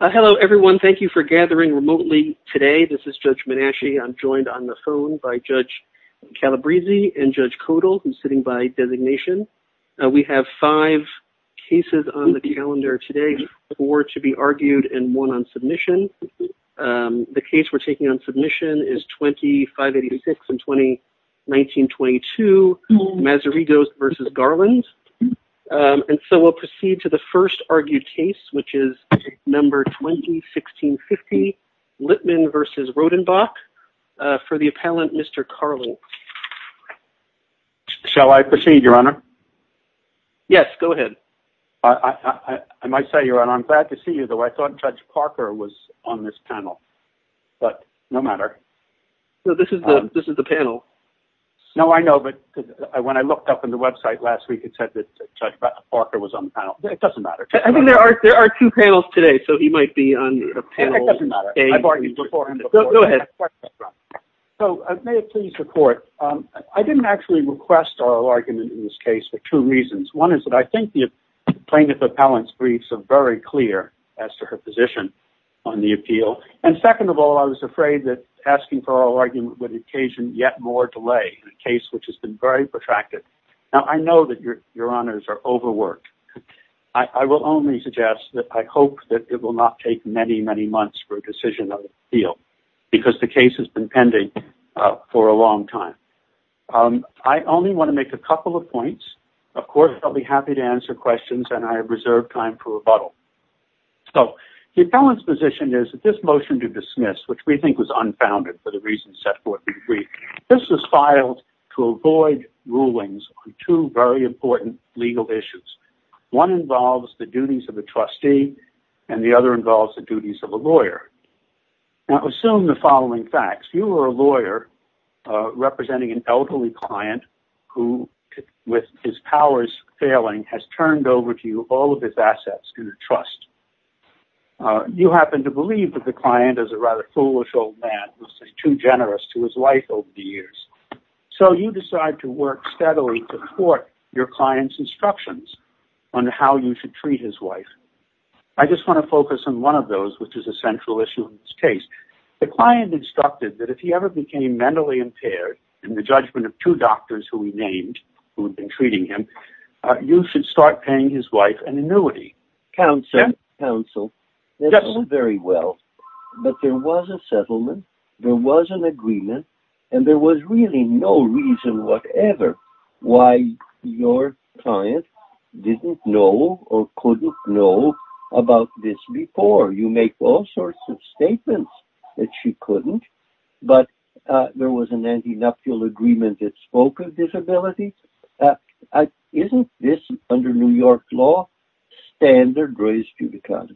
Hello, everyone. Thank you for gathering remotely today. This is Judge Menasche. I'm joined on the phone by Judge Calabresi and Judge Kodal, who's sitting by designation. We have five cases on the calendar today, four to be argued and one on submission. The case we're taking on submission is 2586 and 1922, Mazarigos v. Garland. And so we'll proceed to the first argued case, which is number 201650, Litman v. Rodenbach, for the appellant Mr. Carlin. Judge Calabresi Shall I proceed, Your Honor? Judge Menasche Yes, go ahead. Judge Calabresi I might say, Your Honor, I'm glad to see you, though I thought Judge Parker was on this panel. But no matter. Judge Menasche This is the panel. Judge Calabresi No, I know. But when I looked up on the panel, it doesn't matter. Judge Menasche I think there are two panels today. So he might be on the panel. Judge Calabresi It doesn't matter. I bargained before. Judge Menasche Go ahead. Judge Calabresi So may I please report? I didn't actually request oral argument in this case for two reasons. One is that I think the plaintiff appellant's briefs are very clear as to her position on the appeal. And second of all, I was afraid that asking for oral argument would occasion yet more delay in a case which has been very protracted. Now, I know that Your Honors are overworked. I will only suggest that I hope that it will not take many, many months for a decision on the appeal, because the case has been pending for a long time. I only want to make a couple of points. Of course, I'll be happy to answer questions, and I have reserved time for rebuttal. So the appellant's position is that this motion to dismiss, which we think was unfounded for the reasons set forth in the brief, this was filed to avoid rulings on two very important legal issues. One involves the duties of a trustee, and the other involves the duties of a lawyer. Now, assume the following facts. You are a lawyer representing an elderly client who with his powers failing has turned over to you all of his assets in a trust. You happen to believe that the client, as a rather foolish old man, was too generous to his wife over the years. So you decide to work steadily to court your client's instructions on how you should treat his wife. I just want to focus on one of those, which is a central issue in this case. The client instructed that if he ever became mentally impaired in the judgment of two doctors who he named who had been treating him, you should start paying his wife an annuity. Counsel, very well, but there was a settlement, there was an agreement, and there was really no reason whatever why your client didn't know or couldn't know about this before. You make all sorts of statements that she couldn't, but there was an antinuptial agreement that spoke of disability. Isn't this, under New York law, standard race judicata?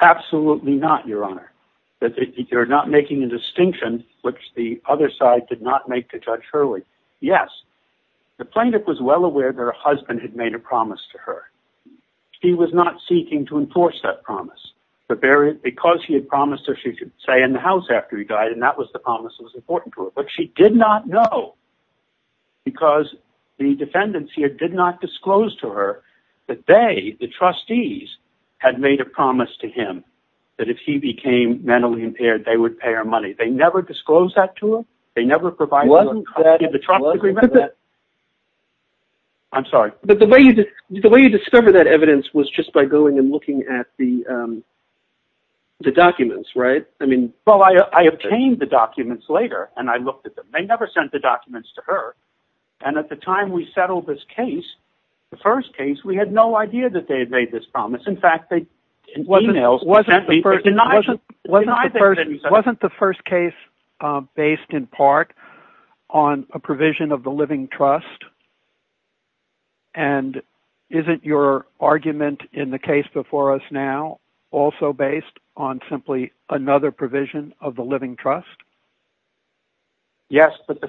Absolutely not, Your Honor. You're not making a distinction, which the other side did not make to Judge Hurley. Yes, the plaintiff was well aware that her husband had made a promise to her. He was not seeking to enforce that promise, because he had promised her she should stay in the house after he died, and that was the promise that was important to her. But she did not know, because the defendants here did not disclose to her that they, the trustees, had made a promise to him that if he became mentally impaired, they would pay her money. They never disclosed that to him? They never provided... Wasn't that... I'm sorry. The way you discovered that evidence was just by going and the documents later, and I looked at them. They never sent the documents to her, and at the time we settled this case, the first case, we had no idea that they had made this promise. In fact, they emailed... Wasn't the first case based in part on a provision of the living trust, and isn't your argument in the case before us now also based on simply another provision of the living trust? Yes, but the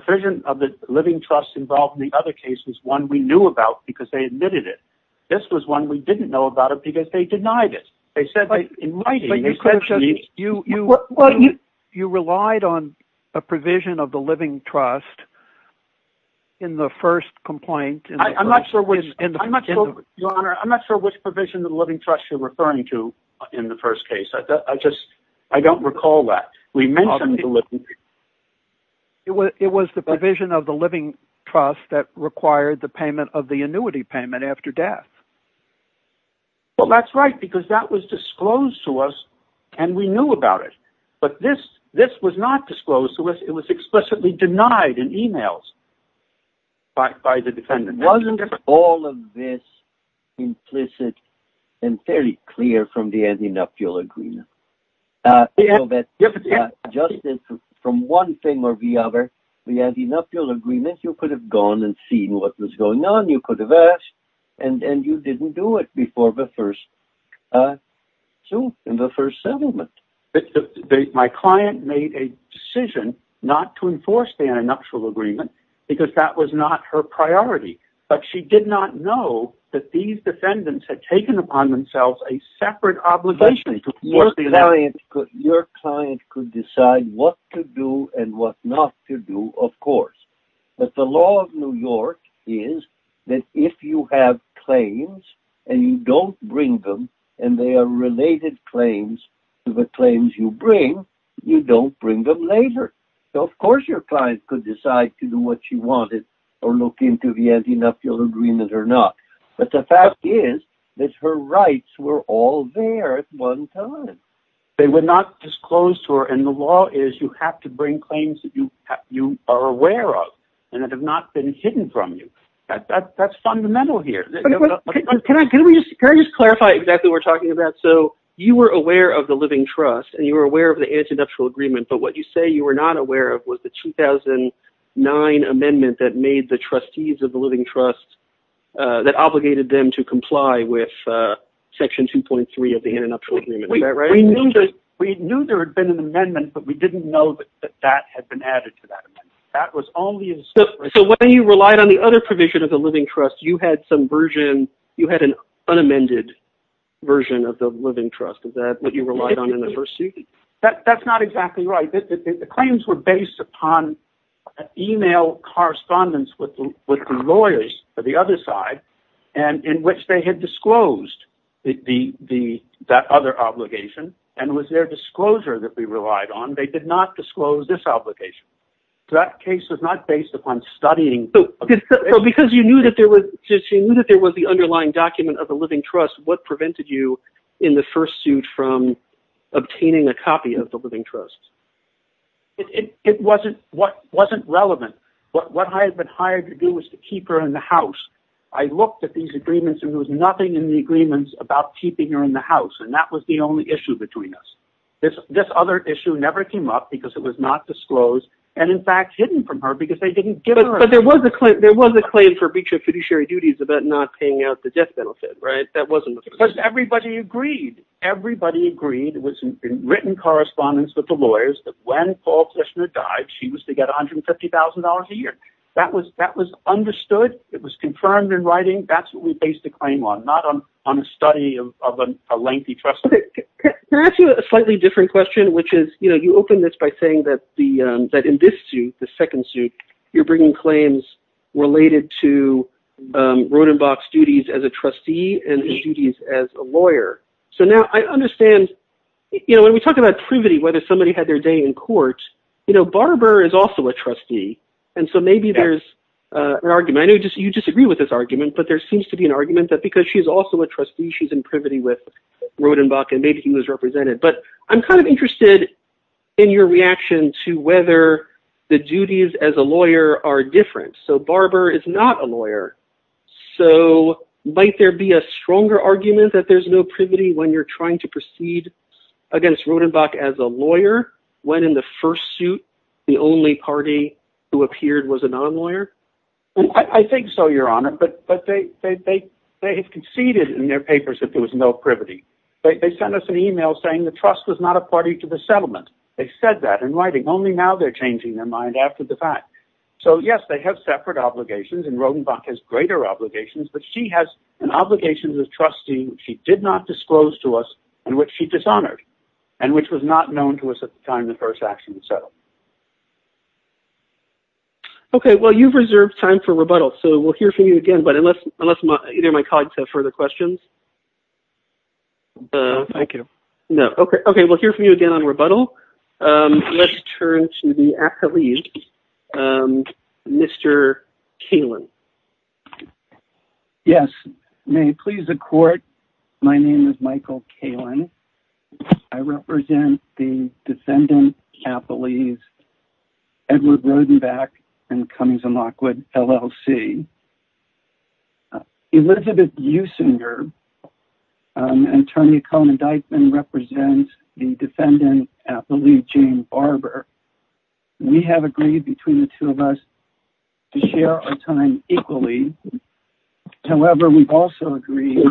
provision of the living trust involved in the other case was one we knew about, because they admitted it. This was one we didn't know about it, because they denied it. They said that in writing... You relied on a provision of the living trust in the first complaint... I'm not sure which... Your Honor, I'm not sure which provision of the living trust. I don't recall that. It was the provision of the living trust that required the payment of the annuity payment after death. Well, that's right, because that was disclosed to us, and we knew about it, but this was not disclosed to us. It was explicitly denied in emails by the defendant. Wasn't all of this implicit and very clear from the antinupial agreement? Yes. Just from one thing or the other, the antinupial agreement, you could have gone and seen what was going on. You could have asked, and you didn't do it before the first settlement. My client made a decision not to enforce the antinupial agreement, because that was not her priority, but she did not know that these defendants had taken upon themselves a separate obligation to enforce the antinupial agreement. Your client could decide what to do and what not to do, of course, but the law of New York is that if you have claims and you don't bring them, and they are related claims to the claims you bring, you don't bring them later. So, of course, your client could decide to do what she wanted or look into the antinupial agreement or not, but the fact is that her rights were all there at one time. They were not disclosed to her, and the law is you have to bring claims that you are aware of and that have not been hidden from you. That's fundamental here. Can I just clarify exactly what we're talking about? So, you were aware of the living trust and you were aware of the antinupial agreement, but what you say you were not aware of was the 2009 amendment that made the trustees of the living trust that obligated them to comply with section 2.3 of the antinupial agreement. Is that right? We knew there had been an amendment, but we didn't know that that had been added to that. So, when you relied on the other provision of the living trust, you had some version, you had an unamended version of the living trust. Is that what you relied on in the first? That's not exactly right. The claims were based upon email correspondence with the lawyers of the other side in which they had disclosed that other obligation, and with their disclosure that we relied on, they did not disclose this obligation. That case was not based upon studying. So, because you knew that there was the underlying document of the living trust, what prevented you in the first suit from obtaining a copy of the relevant? What I had been hired to do was to keep her in the house. I looked at these agreements and there was nothing in the agreements about keeping her in the house, and that was the only issue between us. This other issue never came up because it was not disclosed, and in fact, hidden from her because they didn't give her a copy. But there was a claim for breach of fiduciary duties about not paying out the death benefit, right? That wasn't the position. Everybody agreed. Everybody agreed. It was in written correspondence with the lawyers that when Paul Kushner died, she was to get $150,000 a year. That was understood. It was confirmed in writing. That's what we based the claim on, not on a study of a lengthy trust. Can I ask you a slightly different question, which is, you know, you opened this by saying that in this suit, the second suit, you're bringing claims related to Rodenbach's duties as a trustee and his duties as a lawyer. So now, I understand, you know, when we talk about privity, whether somebody had their day in court, you know, Barber is also a trustee, and so maybe there's an argument. I know you disagree with this argument, but there seems to be an argument that because she's also a trustee, she's in privity with Rodenbach, and maybe he was represented. But I'm kind of interested in your reaction to whether the duties as a lawyer are different. So Barber is not a lawyer. So might there be a stronger argument that there's no privity when you're as a lawyer, when in the first suit, the only party who appeared was another lawyer? I think so, Your Honor, but they have conceded in their papers that there was no privity. They sent us an email saying the trust was not a party to the settlement. They said that in writing. Only now they're changing their mind after the fact. So yes, they have separate obligations, and Rodenbach has greater obligations, but she has an obligation as a trustee which she did not disclose to us and which she dishonored and which was not known to us at the time the first action was settled. Okay, well, you've reserved time for rebuttal, so we'll hear from you again, but unless either of my colleagues have further questions. No, thank you. No. Okay, we'll hear from you again on rebuttal. Let's turn to the accolades. Mr. Kalin. Okay. Yes. May it please the court, my name is Michael Kalin. I represent the defendant appellees Edward Rodenbach and Cummings and Lockwood, LLC. Elizabeth Eusinger and Tonya Cohen-Dykeman represents the defendant appellee Jane Barber. We have agreed between the time equally. However, we've also agreed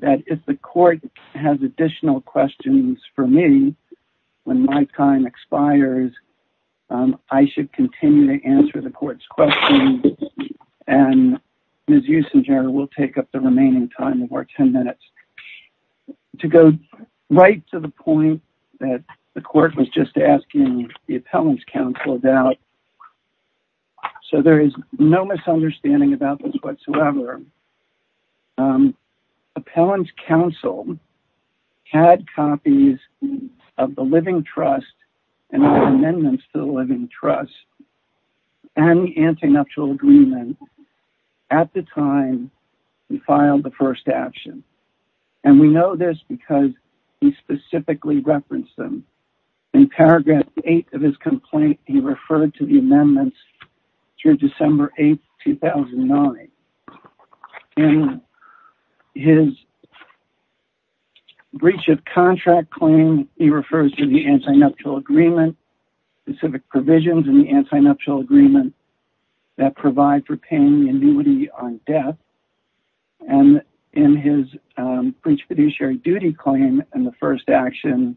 that if the court has additional questions for me, when my time expires, I should continue to answer the court's questions, and Ms. Eusinger will take up the remaining time of our 10 minutes. To go right to the point that the court was just asking the appellant's counsel about. Okay. So there is no misunderstanding about this whatsoever. Appellant's counsel had copies of the living trust and amendments to the living trust and the anti-nuptial agreement at the time he filed the first action. And we know this because he specifically referenced them. In paragraph eight of his complaint, he referred to the amendments through December 8th, 2009. In his breach of contract claim, he refers to the anti-nuptial agreement, specific provisions in the anti-nuptial agreement that provide for paying annuity on death. And in his breach of fiduciary duty claim in the first action,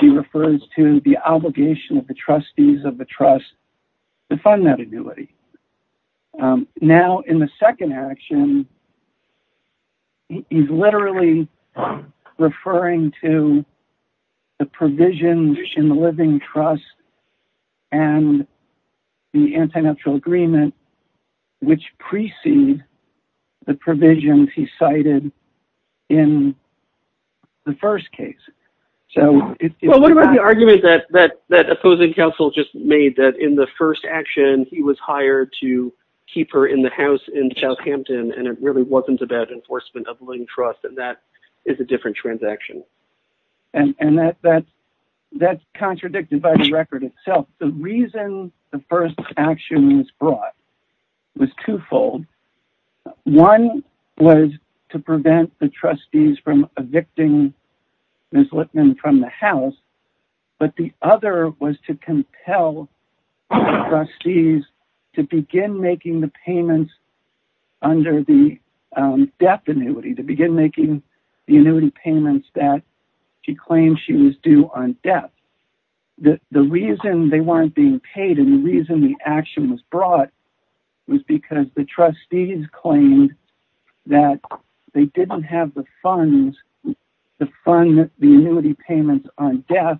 he refers to the obligation of the trustees of the trust to fund that annuity. Now in the second action, he's literally referring to the provisions in the living trust and the anti-nuptial agreement which precede the provisions he cited in the first case. Well, what about the argument that opposing counsel just made that in the first action, he was hired to keep her in the house in Southampton and it really wasn't about enforcement of living trust and that is a different transaction. And that's contradicted by the record itself. The reason the first action was brought was twofold. One was to prevent the trustees from evicting Ms. Lipman from the house, but the other was to compel trustees to begin making the payments under the death annuity, to begin making the annuity payments that she claimed she was due on death. The reason they weren't being paid and the reason the action was brought was because the trustees claimed that they didn't have the funds to fund the annuity payments on death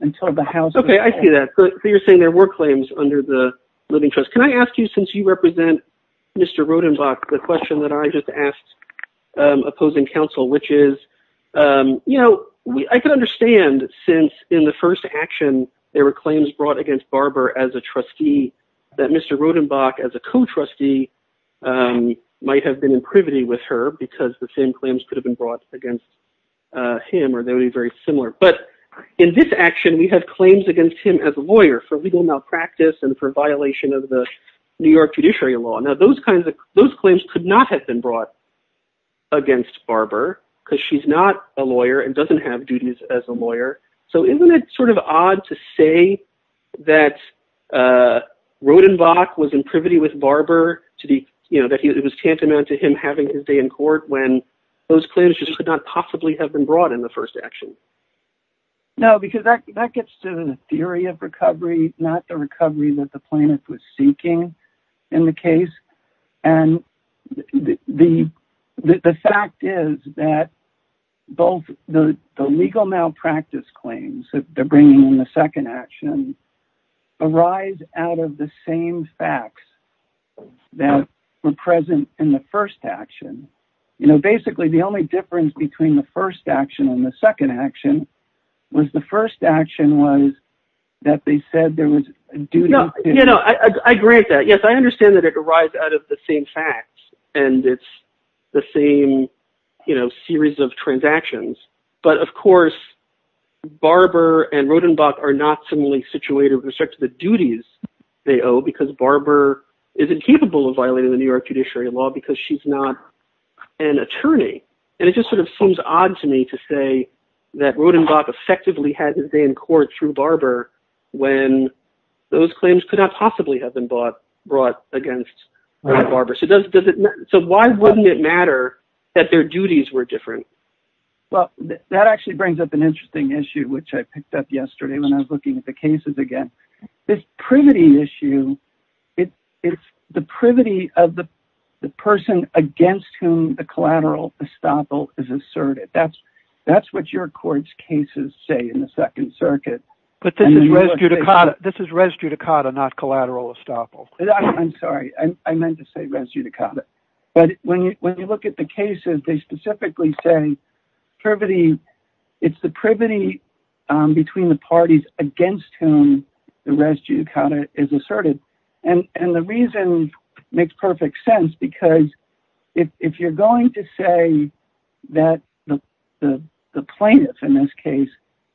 until the house... Okay, I see that. So you're saying there were claims under the living trust. Can I ask you, since you represent Mr. Rodenbach, the question that I just asked opposing counsel, which is... I can understand since in the first action, there were claims brought against Barbara as a trustee that Mr. Rodenbach as a co-trustee might have been in privity with her because the same claims could have been brought against him or they would be very similar. But in this action, we have claims against him as a lawyer for legal malpractice and for violation of the New York judiciary law. Now, those claims could have been brought against Barbara because she's not a lawyer and doesn't have duties as a lawyer. So isn't it sort of odd to say that Rodenbach was in privity with Barbara, that it was tantamount to him having his day in court when those claims just could not possibly have been brought in the first action? No, because that gets to the theory of recovery, not the recovery that the plaintiff was seeking in the case. And the fact is that both the legal malpractice claims that they're bringing in the second action arise out of the same facts that were present in the first action. Basically, the only difference between the first action and the second action was the first action was that they said there was a duty. I agree with that. Yes, I understand that it arrives out of the same facts and it's the same series of transactions. But of course, Barbara and Rodenbach are not similarly situated with respect to the duties they owe because Barbara isn't capable of violating the New York judiciary law because she's not an attorney. And it just sort of seems odd to me to say that Rodenbach effectively had his day in court through Barbara when those claims could not possibly have been brought against Barbara. So why wouldn't it matter that their duties were different? Well, that actually brings up an interesting issue, which I picked up yesterday when I was talking about the privity issue. It's the privity of the person against whom the collateral estoppel is asserted. That's what your court's cases say in the Second Circuit. But this is res judicata. This is res judicata, not collateral estoppel. I'm sorry. I meant to say res judicata. But when you look at the cases, they specifically say privity. It's the privity between the parties against whom the res judicata is asserted. And the reason makes perfect sense because if you're going to say that the plaintiff in this case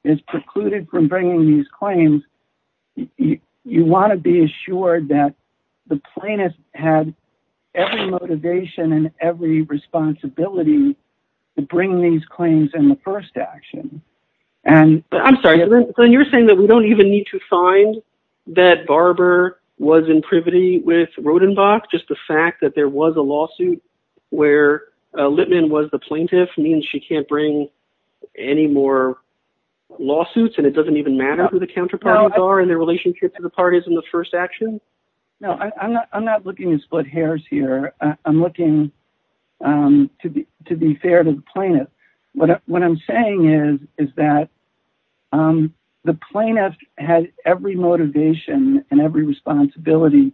is precluded from bringing these claims, you want to be assured that the plaintiff had every motivation and every responsibility to bring these claims in the first action. I'm sorry. Glenn, you're saying that we don't even need to find that Barbara was in privity with Rodenbach? Just the fact that there was a lawsuit where Lippman was the plaintiff means she can't bring any more lawsuits and it doesn't even matter who the counterparties are and their split hairs here. I'm looking to be fair to the plaintiff. What I'm saying is that the plaintiff had every motivation and every responsibility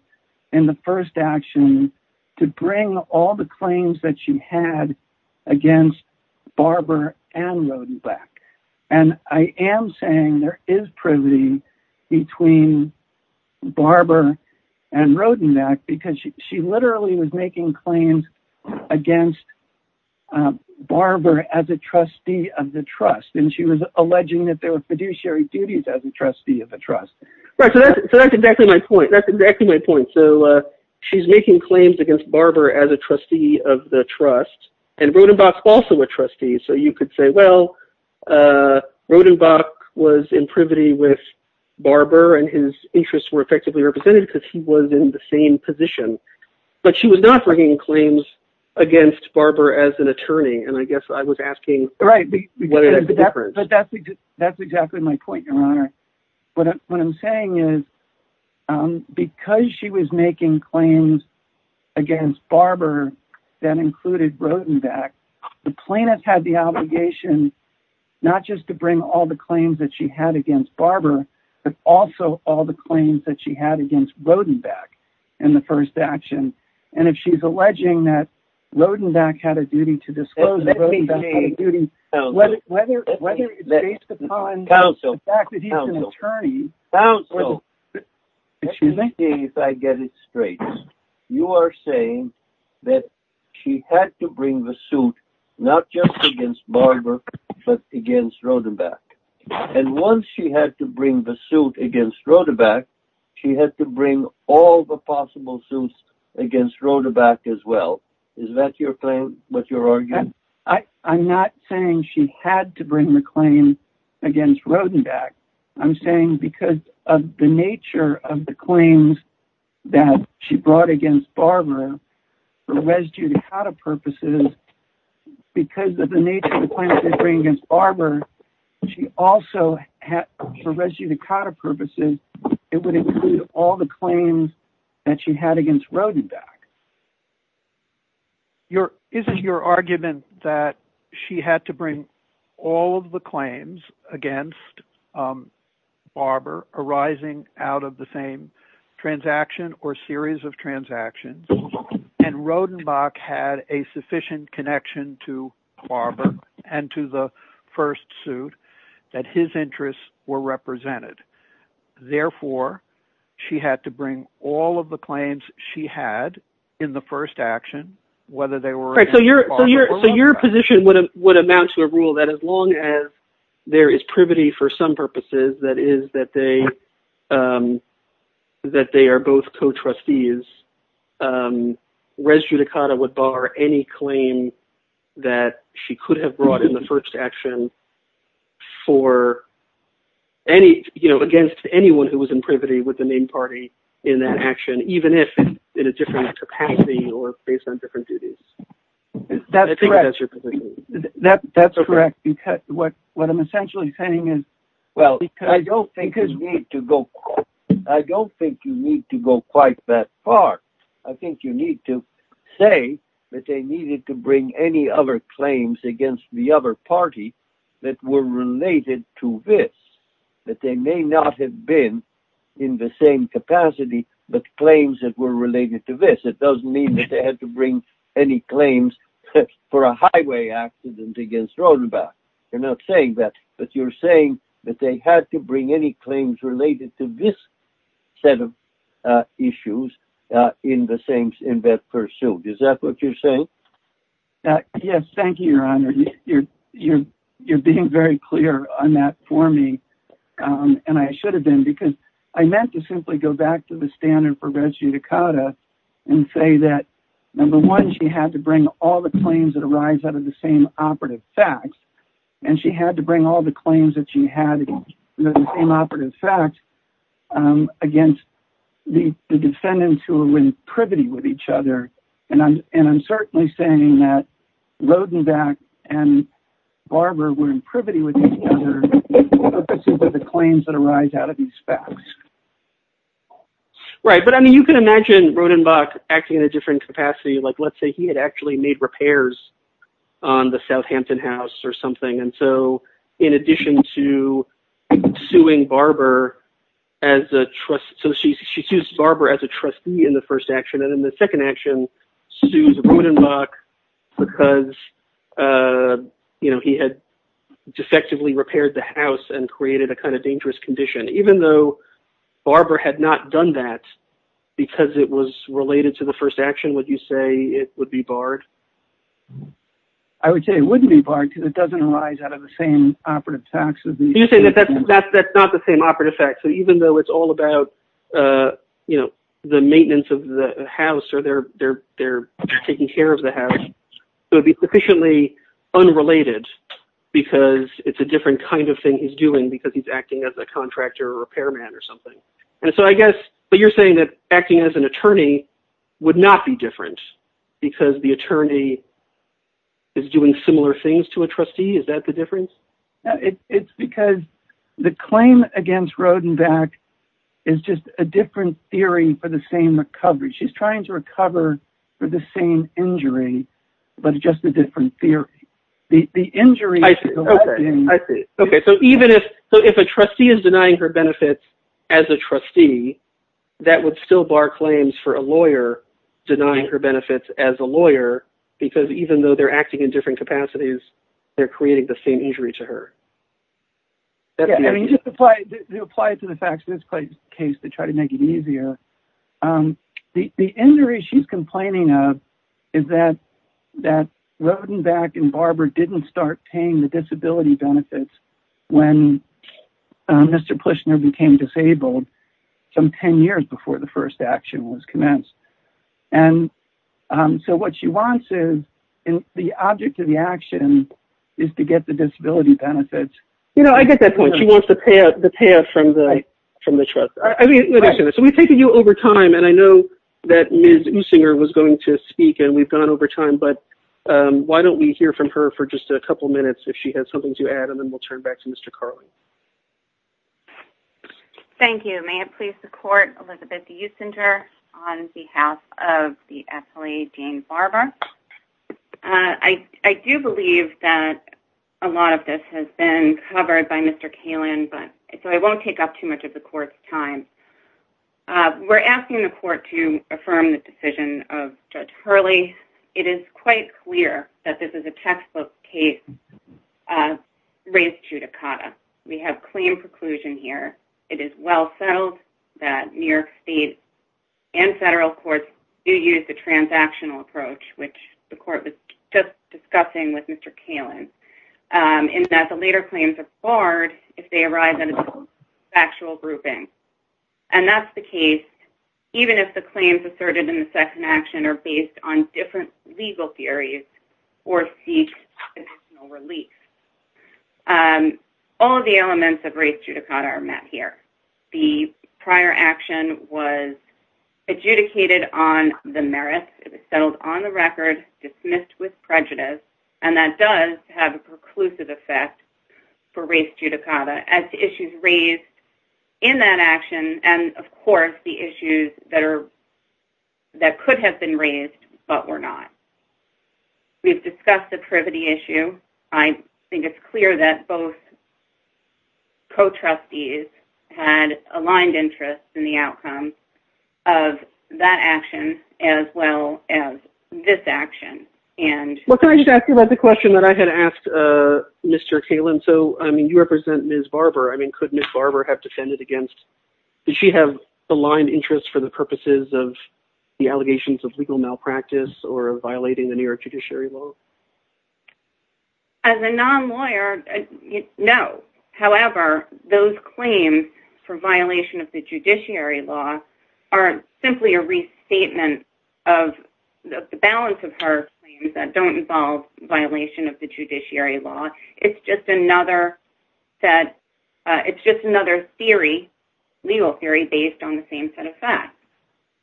in the first action to bring all the claims that she had against Barbara and Rodenbach. And I am saying there is privity between Barbara and Rodenbach because she literally was making claims against Barbara as a trustee of the trust. And she was alleging that there were fiduciary duties as a trustee of the trust. Right. So that's exactly my point. That's exactly my point. So she's making claims against Barbara as a trustee of the trust. And Rodenbach's also a trustee. So you could say, well, Rodenbach was in privity with Barbara and his interests were effectively represented because he was in the same position. But she was not bringing claims against Barbara as an attorney. And I guess I was asking what is the difference? That's exactly my point, Your Honor. What I'm saying is because she was making claims against Barbara that included Rodenbach, the plaintiff had the obligation not just to bring all the claims that she had against Barbara, but also all the claims that she had against Rodenbach in the first action. And if she's alleging that Rodenbach had a duty to disclose, whether it's based upon the fact that he's an not just against Barbara, but against Rodenbach. And once she had to bring the suit against Rodenbach, she had to bring all the possible suits against Rodenbach as well. Is that your claim, what you're arguing? I'm not saying she had to bring the claim against Rodenbach. I'm saying because of the nature of the claims that she brought against Barbara for res judicata purposes, because of the nature of the claims that she brought against Barbara, she also had for res judicata purposes, it would include all the claims that she had against Rodenbach. Isn't your argument that she had to bring all of the claims against Barbara arising out of the same transaction or series of transactions, and Rodenbach had a sufficient connection to Barbara and to the first suit that his interests were represented. Therefore, she had to bring all of the claims she had in the first action, whether they were- So your position would amount to a rule that as long as there is privity for some purposes, that is that they are both co-trustees, res judicata would bar any claim that she could have brought in the first action against anyone who was in privity with the main party in that action, even if in a different capacity or based on different duties. I think that's your position. That's correct. What I'm essentially saying is- I don't think you need to go quite that far. I think you need to say that they needed to bring any other claims against the other party that were related to this, that they may not have been in the same capacity, but claims that were related to this. It doesn't mean that they had to bring any claims for a highway accident against Rodenbach. You're not saying that, but you're saying that they had to bring any claims related to this set of issues in the same in that pursuit. Is that what you're saying? Yes. Thank you, your honor. You're being very clear on that for me, and I should have been, I meant to simply go back to the standard for res judicata and say that, number one, she had to bring all the claims that arise out of the same operative facts, and she had to bring all the claims that she had in the same operative facts against the defendants who were in privity with each other. I'm certainly saying that Rodenbach and Barber were in privity with each other, but the claims that arise out of these facts. Right, but I mean, you can imagine Rodenbach acting in a different capacity, like let's say he had actually made repairs on the Southampton House or something, and so in addition to suing Barber as a trustee, so she sues Barber as a trustee in the first action, and in the second action sues Rodenbach because he had defectively repaired the house and created a kind of dangerous condition. Even though Barber had not done that because it was related to the first action, would you say it would be barred? I would say it wouldn't be barred because it doesn't arise out of the same operative facts. You're saying that that's not the same operative fact, so even though it's all about the maintenance of the house or they're taking care of the house, it would be sufficiently unrelated because it's a different kind of thing he's doing because he's acting as a contractor or repairman or something. And so I guess, but you're saying that acting as an attorney would not be different because the attorney is doing similar things to a trustee, is that the difference? It's because the claim against Rodenbach is just a different theory for the same recovery. She's trying to recover for the same injury, but it's just a different theory. The injury... Okay, so even if a trustee is denying her benefits as a trustee, that would still bar claims for a lawyer denying her benefits as a lawyer because even though they're acting in the same injury to her. To apply it to the facts of this case to try to make it easier, the injury she's complaining of is that Rodenbach and Barber didn't start paying the disability benefits when Mr. Pushner became disabled some 10 years before the first action was commenced. And so what she wants is the object of the action is to get the disability benefits. You know, I get that point. She wants the payoff from the trust. So we've taken you over time and I know that Ms. Usinger was going to speak and we've gone over time, but why don't we hear from her for just a couple minutes if she has something to add and then we'll turn back to Mr. Carlin. Thank you. May it please the court, Elizabeth Usinger, on behalf of the SLA, Jane Barber. I do believe that a lot of this has been covered by Mr. Carlin, but so I won't take up too much of the court's time. We're asking the court to affirm the decision of Judge Hurley. It is quite clear that this is a textbook case of race judicata. We have claim preclusion here. It is well settled that New York state and federal courts do use the transactional approach, which the court was just discussing with Mr. Carlin, in that the later claims are barred if they arrive at a factual grouping. And that's the case, even if the claims asserted in the second action are based on different legal theories or seek additional relief. All of the elements of race judicata are met here. The prior action was adjudicated on the merits. It was settled on the record, dismissed with prejudice, and that does have a preclusive effect for race judicata as to issues raised in that action and, of course, the issues that could have been raised, but were not. We've discussed the privity issue. I think it's clear that both co-trustees had aligned interests in the outcome of that action, as well as this action. Well, can I just ask you about the question that I had asked Mr. Carlin? So, I mean, you represent Ms. Barber. I mean, could Ms. Barber have defended against... Did she have aligned interests for the purposes of the allegations of legal malpractice or violating the New York judiciary law? As a non-lawyer, no. However, those claims for violation of the don't involve violation of the judiciary law. It's just another set. It's just another theory, legal theory, based on the same set of facts,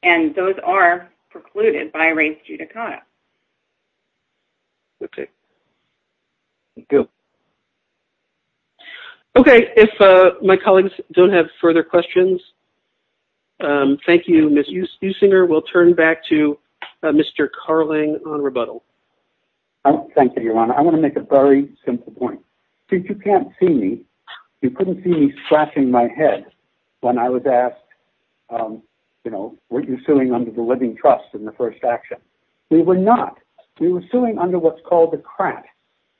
and those are precluded by race judicata. Okay. Thank you. Okay. If my colleagues don't have further questions, thank you, Ms. Eusinger. We'll turn back to Mr. Carlin on rebuttal. Thank you, Your Honor. I want to make a very simple point. Since you can't see me, you couldn't see me scratching my head when I was asked, you know, were you suing under the living trust in the first action? We were not. We were suing under what's called the CRAT.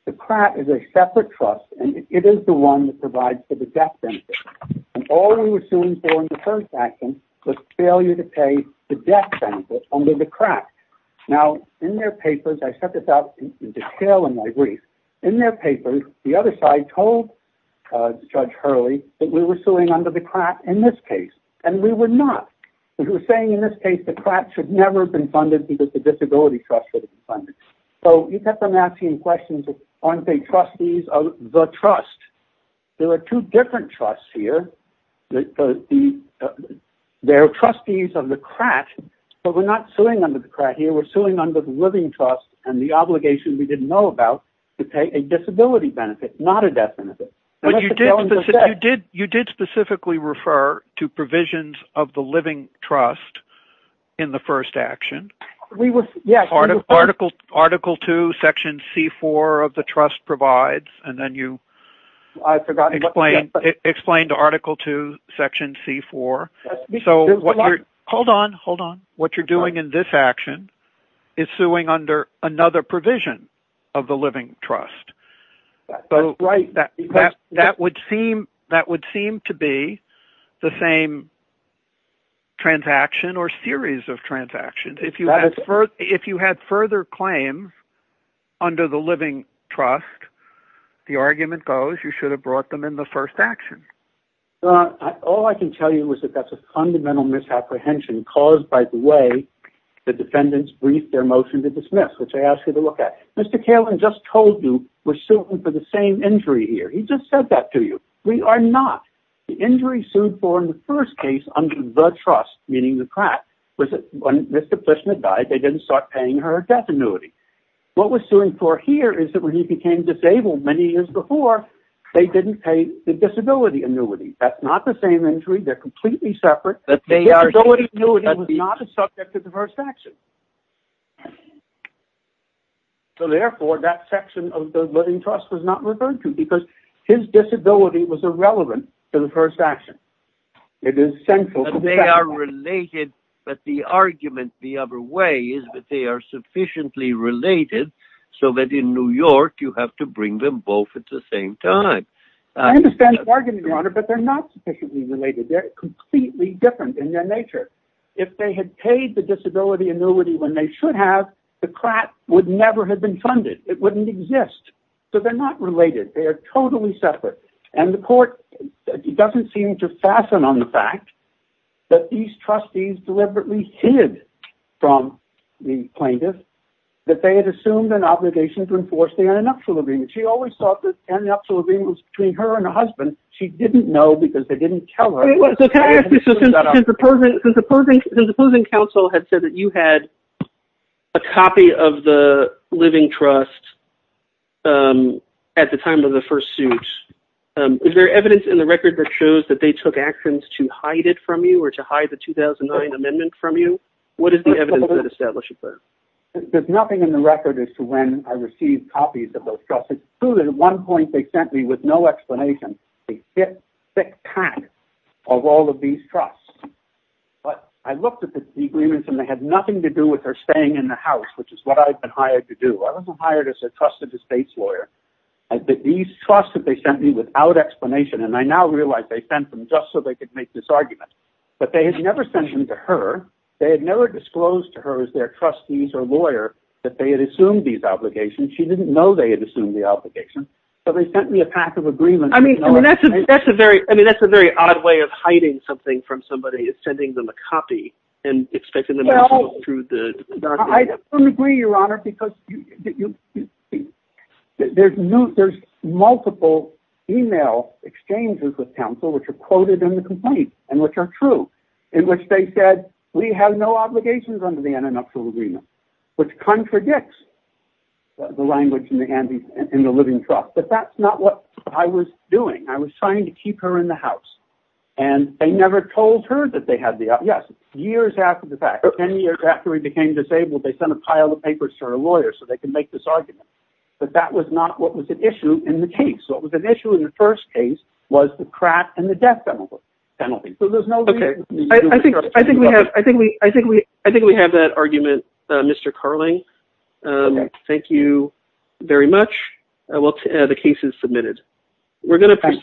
The CRAT is a separate trust, and it is the one that provides for the death benefit, and all we were suing for in the first action was failure to pay the death benefit under the CRAT. Now, in their papers, I set this out in detail in my brief. In their papers, the other side told Judge Hurley that we were suing under the CRAT in this case, and we were not. They were saying in this case the CRAT should never have been funded because the disability trust would have been funded. So you kept on asking questions, aren't they trustees of the trust? There are two different trusts here. They're trustees of the CRAT, but we're not suing under the CRAT here. We're suing under the living trust and the obligation we didn't know about to pay a disability benefit, not a death benefit. You did specifically refer to provisions of the living trust in the first action. Article 2, section C4 of the trust provides, and then you explained Article 2, section C4. Hold on, hold on. What you're doing in this action is suing under another provision of the living trust. If you had further claims under the living trust, the argument goes you should have brought them in the first action. All I can tell you is that that's a fundamental misapprehension caused by the way the defendants briefed their motion to dismiss, which I asked you to look at. Mr. Kalin just told you we're suing for the same injury here. He just said that to you. We are not. The injury sued for in the first case under the trust, meaning the CRAT, was that when Mr. Fishman died, they didn't start paying her a death annuity. What we're suing for here is that when he became disabled many years before, they didn't pay the disability annuity. That's not the same injury. They're completely separate. The disability annuity was not a subject of the first action. So therefore, that section of the living trust was not referred to because his disability was irrelevant to the first action. It is central. But they are related, but the argument the other way is that they are sufficiently related, so that in New York, you have to bring them both at the same time. I understand the argument, Your Honor, but they're not sufficiently related. They're completely different in their nature. If they had paid the disability annuity when they should have, the CRAT would never have been funded. It wouldn't exist. So they're not related. They are totally separate. And the court doesn't seem to fasten on the fact that these trustees deliberately hid from the plaintiffs that they had assumed an obligation to enforce the annuptial agreement. She always thought that the annuptial agreement was between her and her husband. She didn't know because they didn't tell her. So can I ask you, since the Pershing Council had said that you had a copy of the living trust at the time of the first suit, is there evidence in the record that shows that they took actions to hide it from you or to hide the 2009 amendment from you? What is the evidence that establishes that? There's nothing in the record as to when I received copies of those trusts. It's true that at one point, they sent me with no explanation. A thick, thick pack of all of these trusts. But I looked at the agreements and they had nothing to do with her staying in the house, which is what I've been hired to do. I wasn't hired as a trusted estates lawyer. These trusts that they sent me without explanation, and I now realize they sent them just so they could make this argument, but they had never sent them to her. They had never disclosed to her as their trustees or lawyer that they had assumed these obligations. She didn't know they had assumed the obligation, but they sent me a pack of agreements. I mean, that's a very odd way of hiding something from somebody is sending them a copy and expecting them to go through the document. I don't agree, Your Honor, because there's multiple email exchanges with counsel, which are quoted in the complaint and which are true, in which they said, we have no obligations under the antitrust agreement, which contradicts the language in the living trust. But that's not what I was doing. I was trying to keep her in the house. And they never told her that they had the, yes, years after the fact, 10 years after he became disabled, they sent a pile of papers to her lawyer so they can make this argument. But that was not what was at issue in the case. What was at issue in the first case was the crack and the death penalty. So there's no reason. Okay. I think we have that argument, Mr. Carling. Okay. Thank you very much. The case is submitted. We're going to proceed.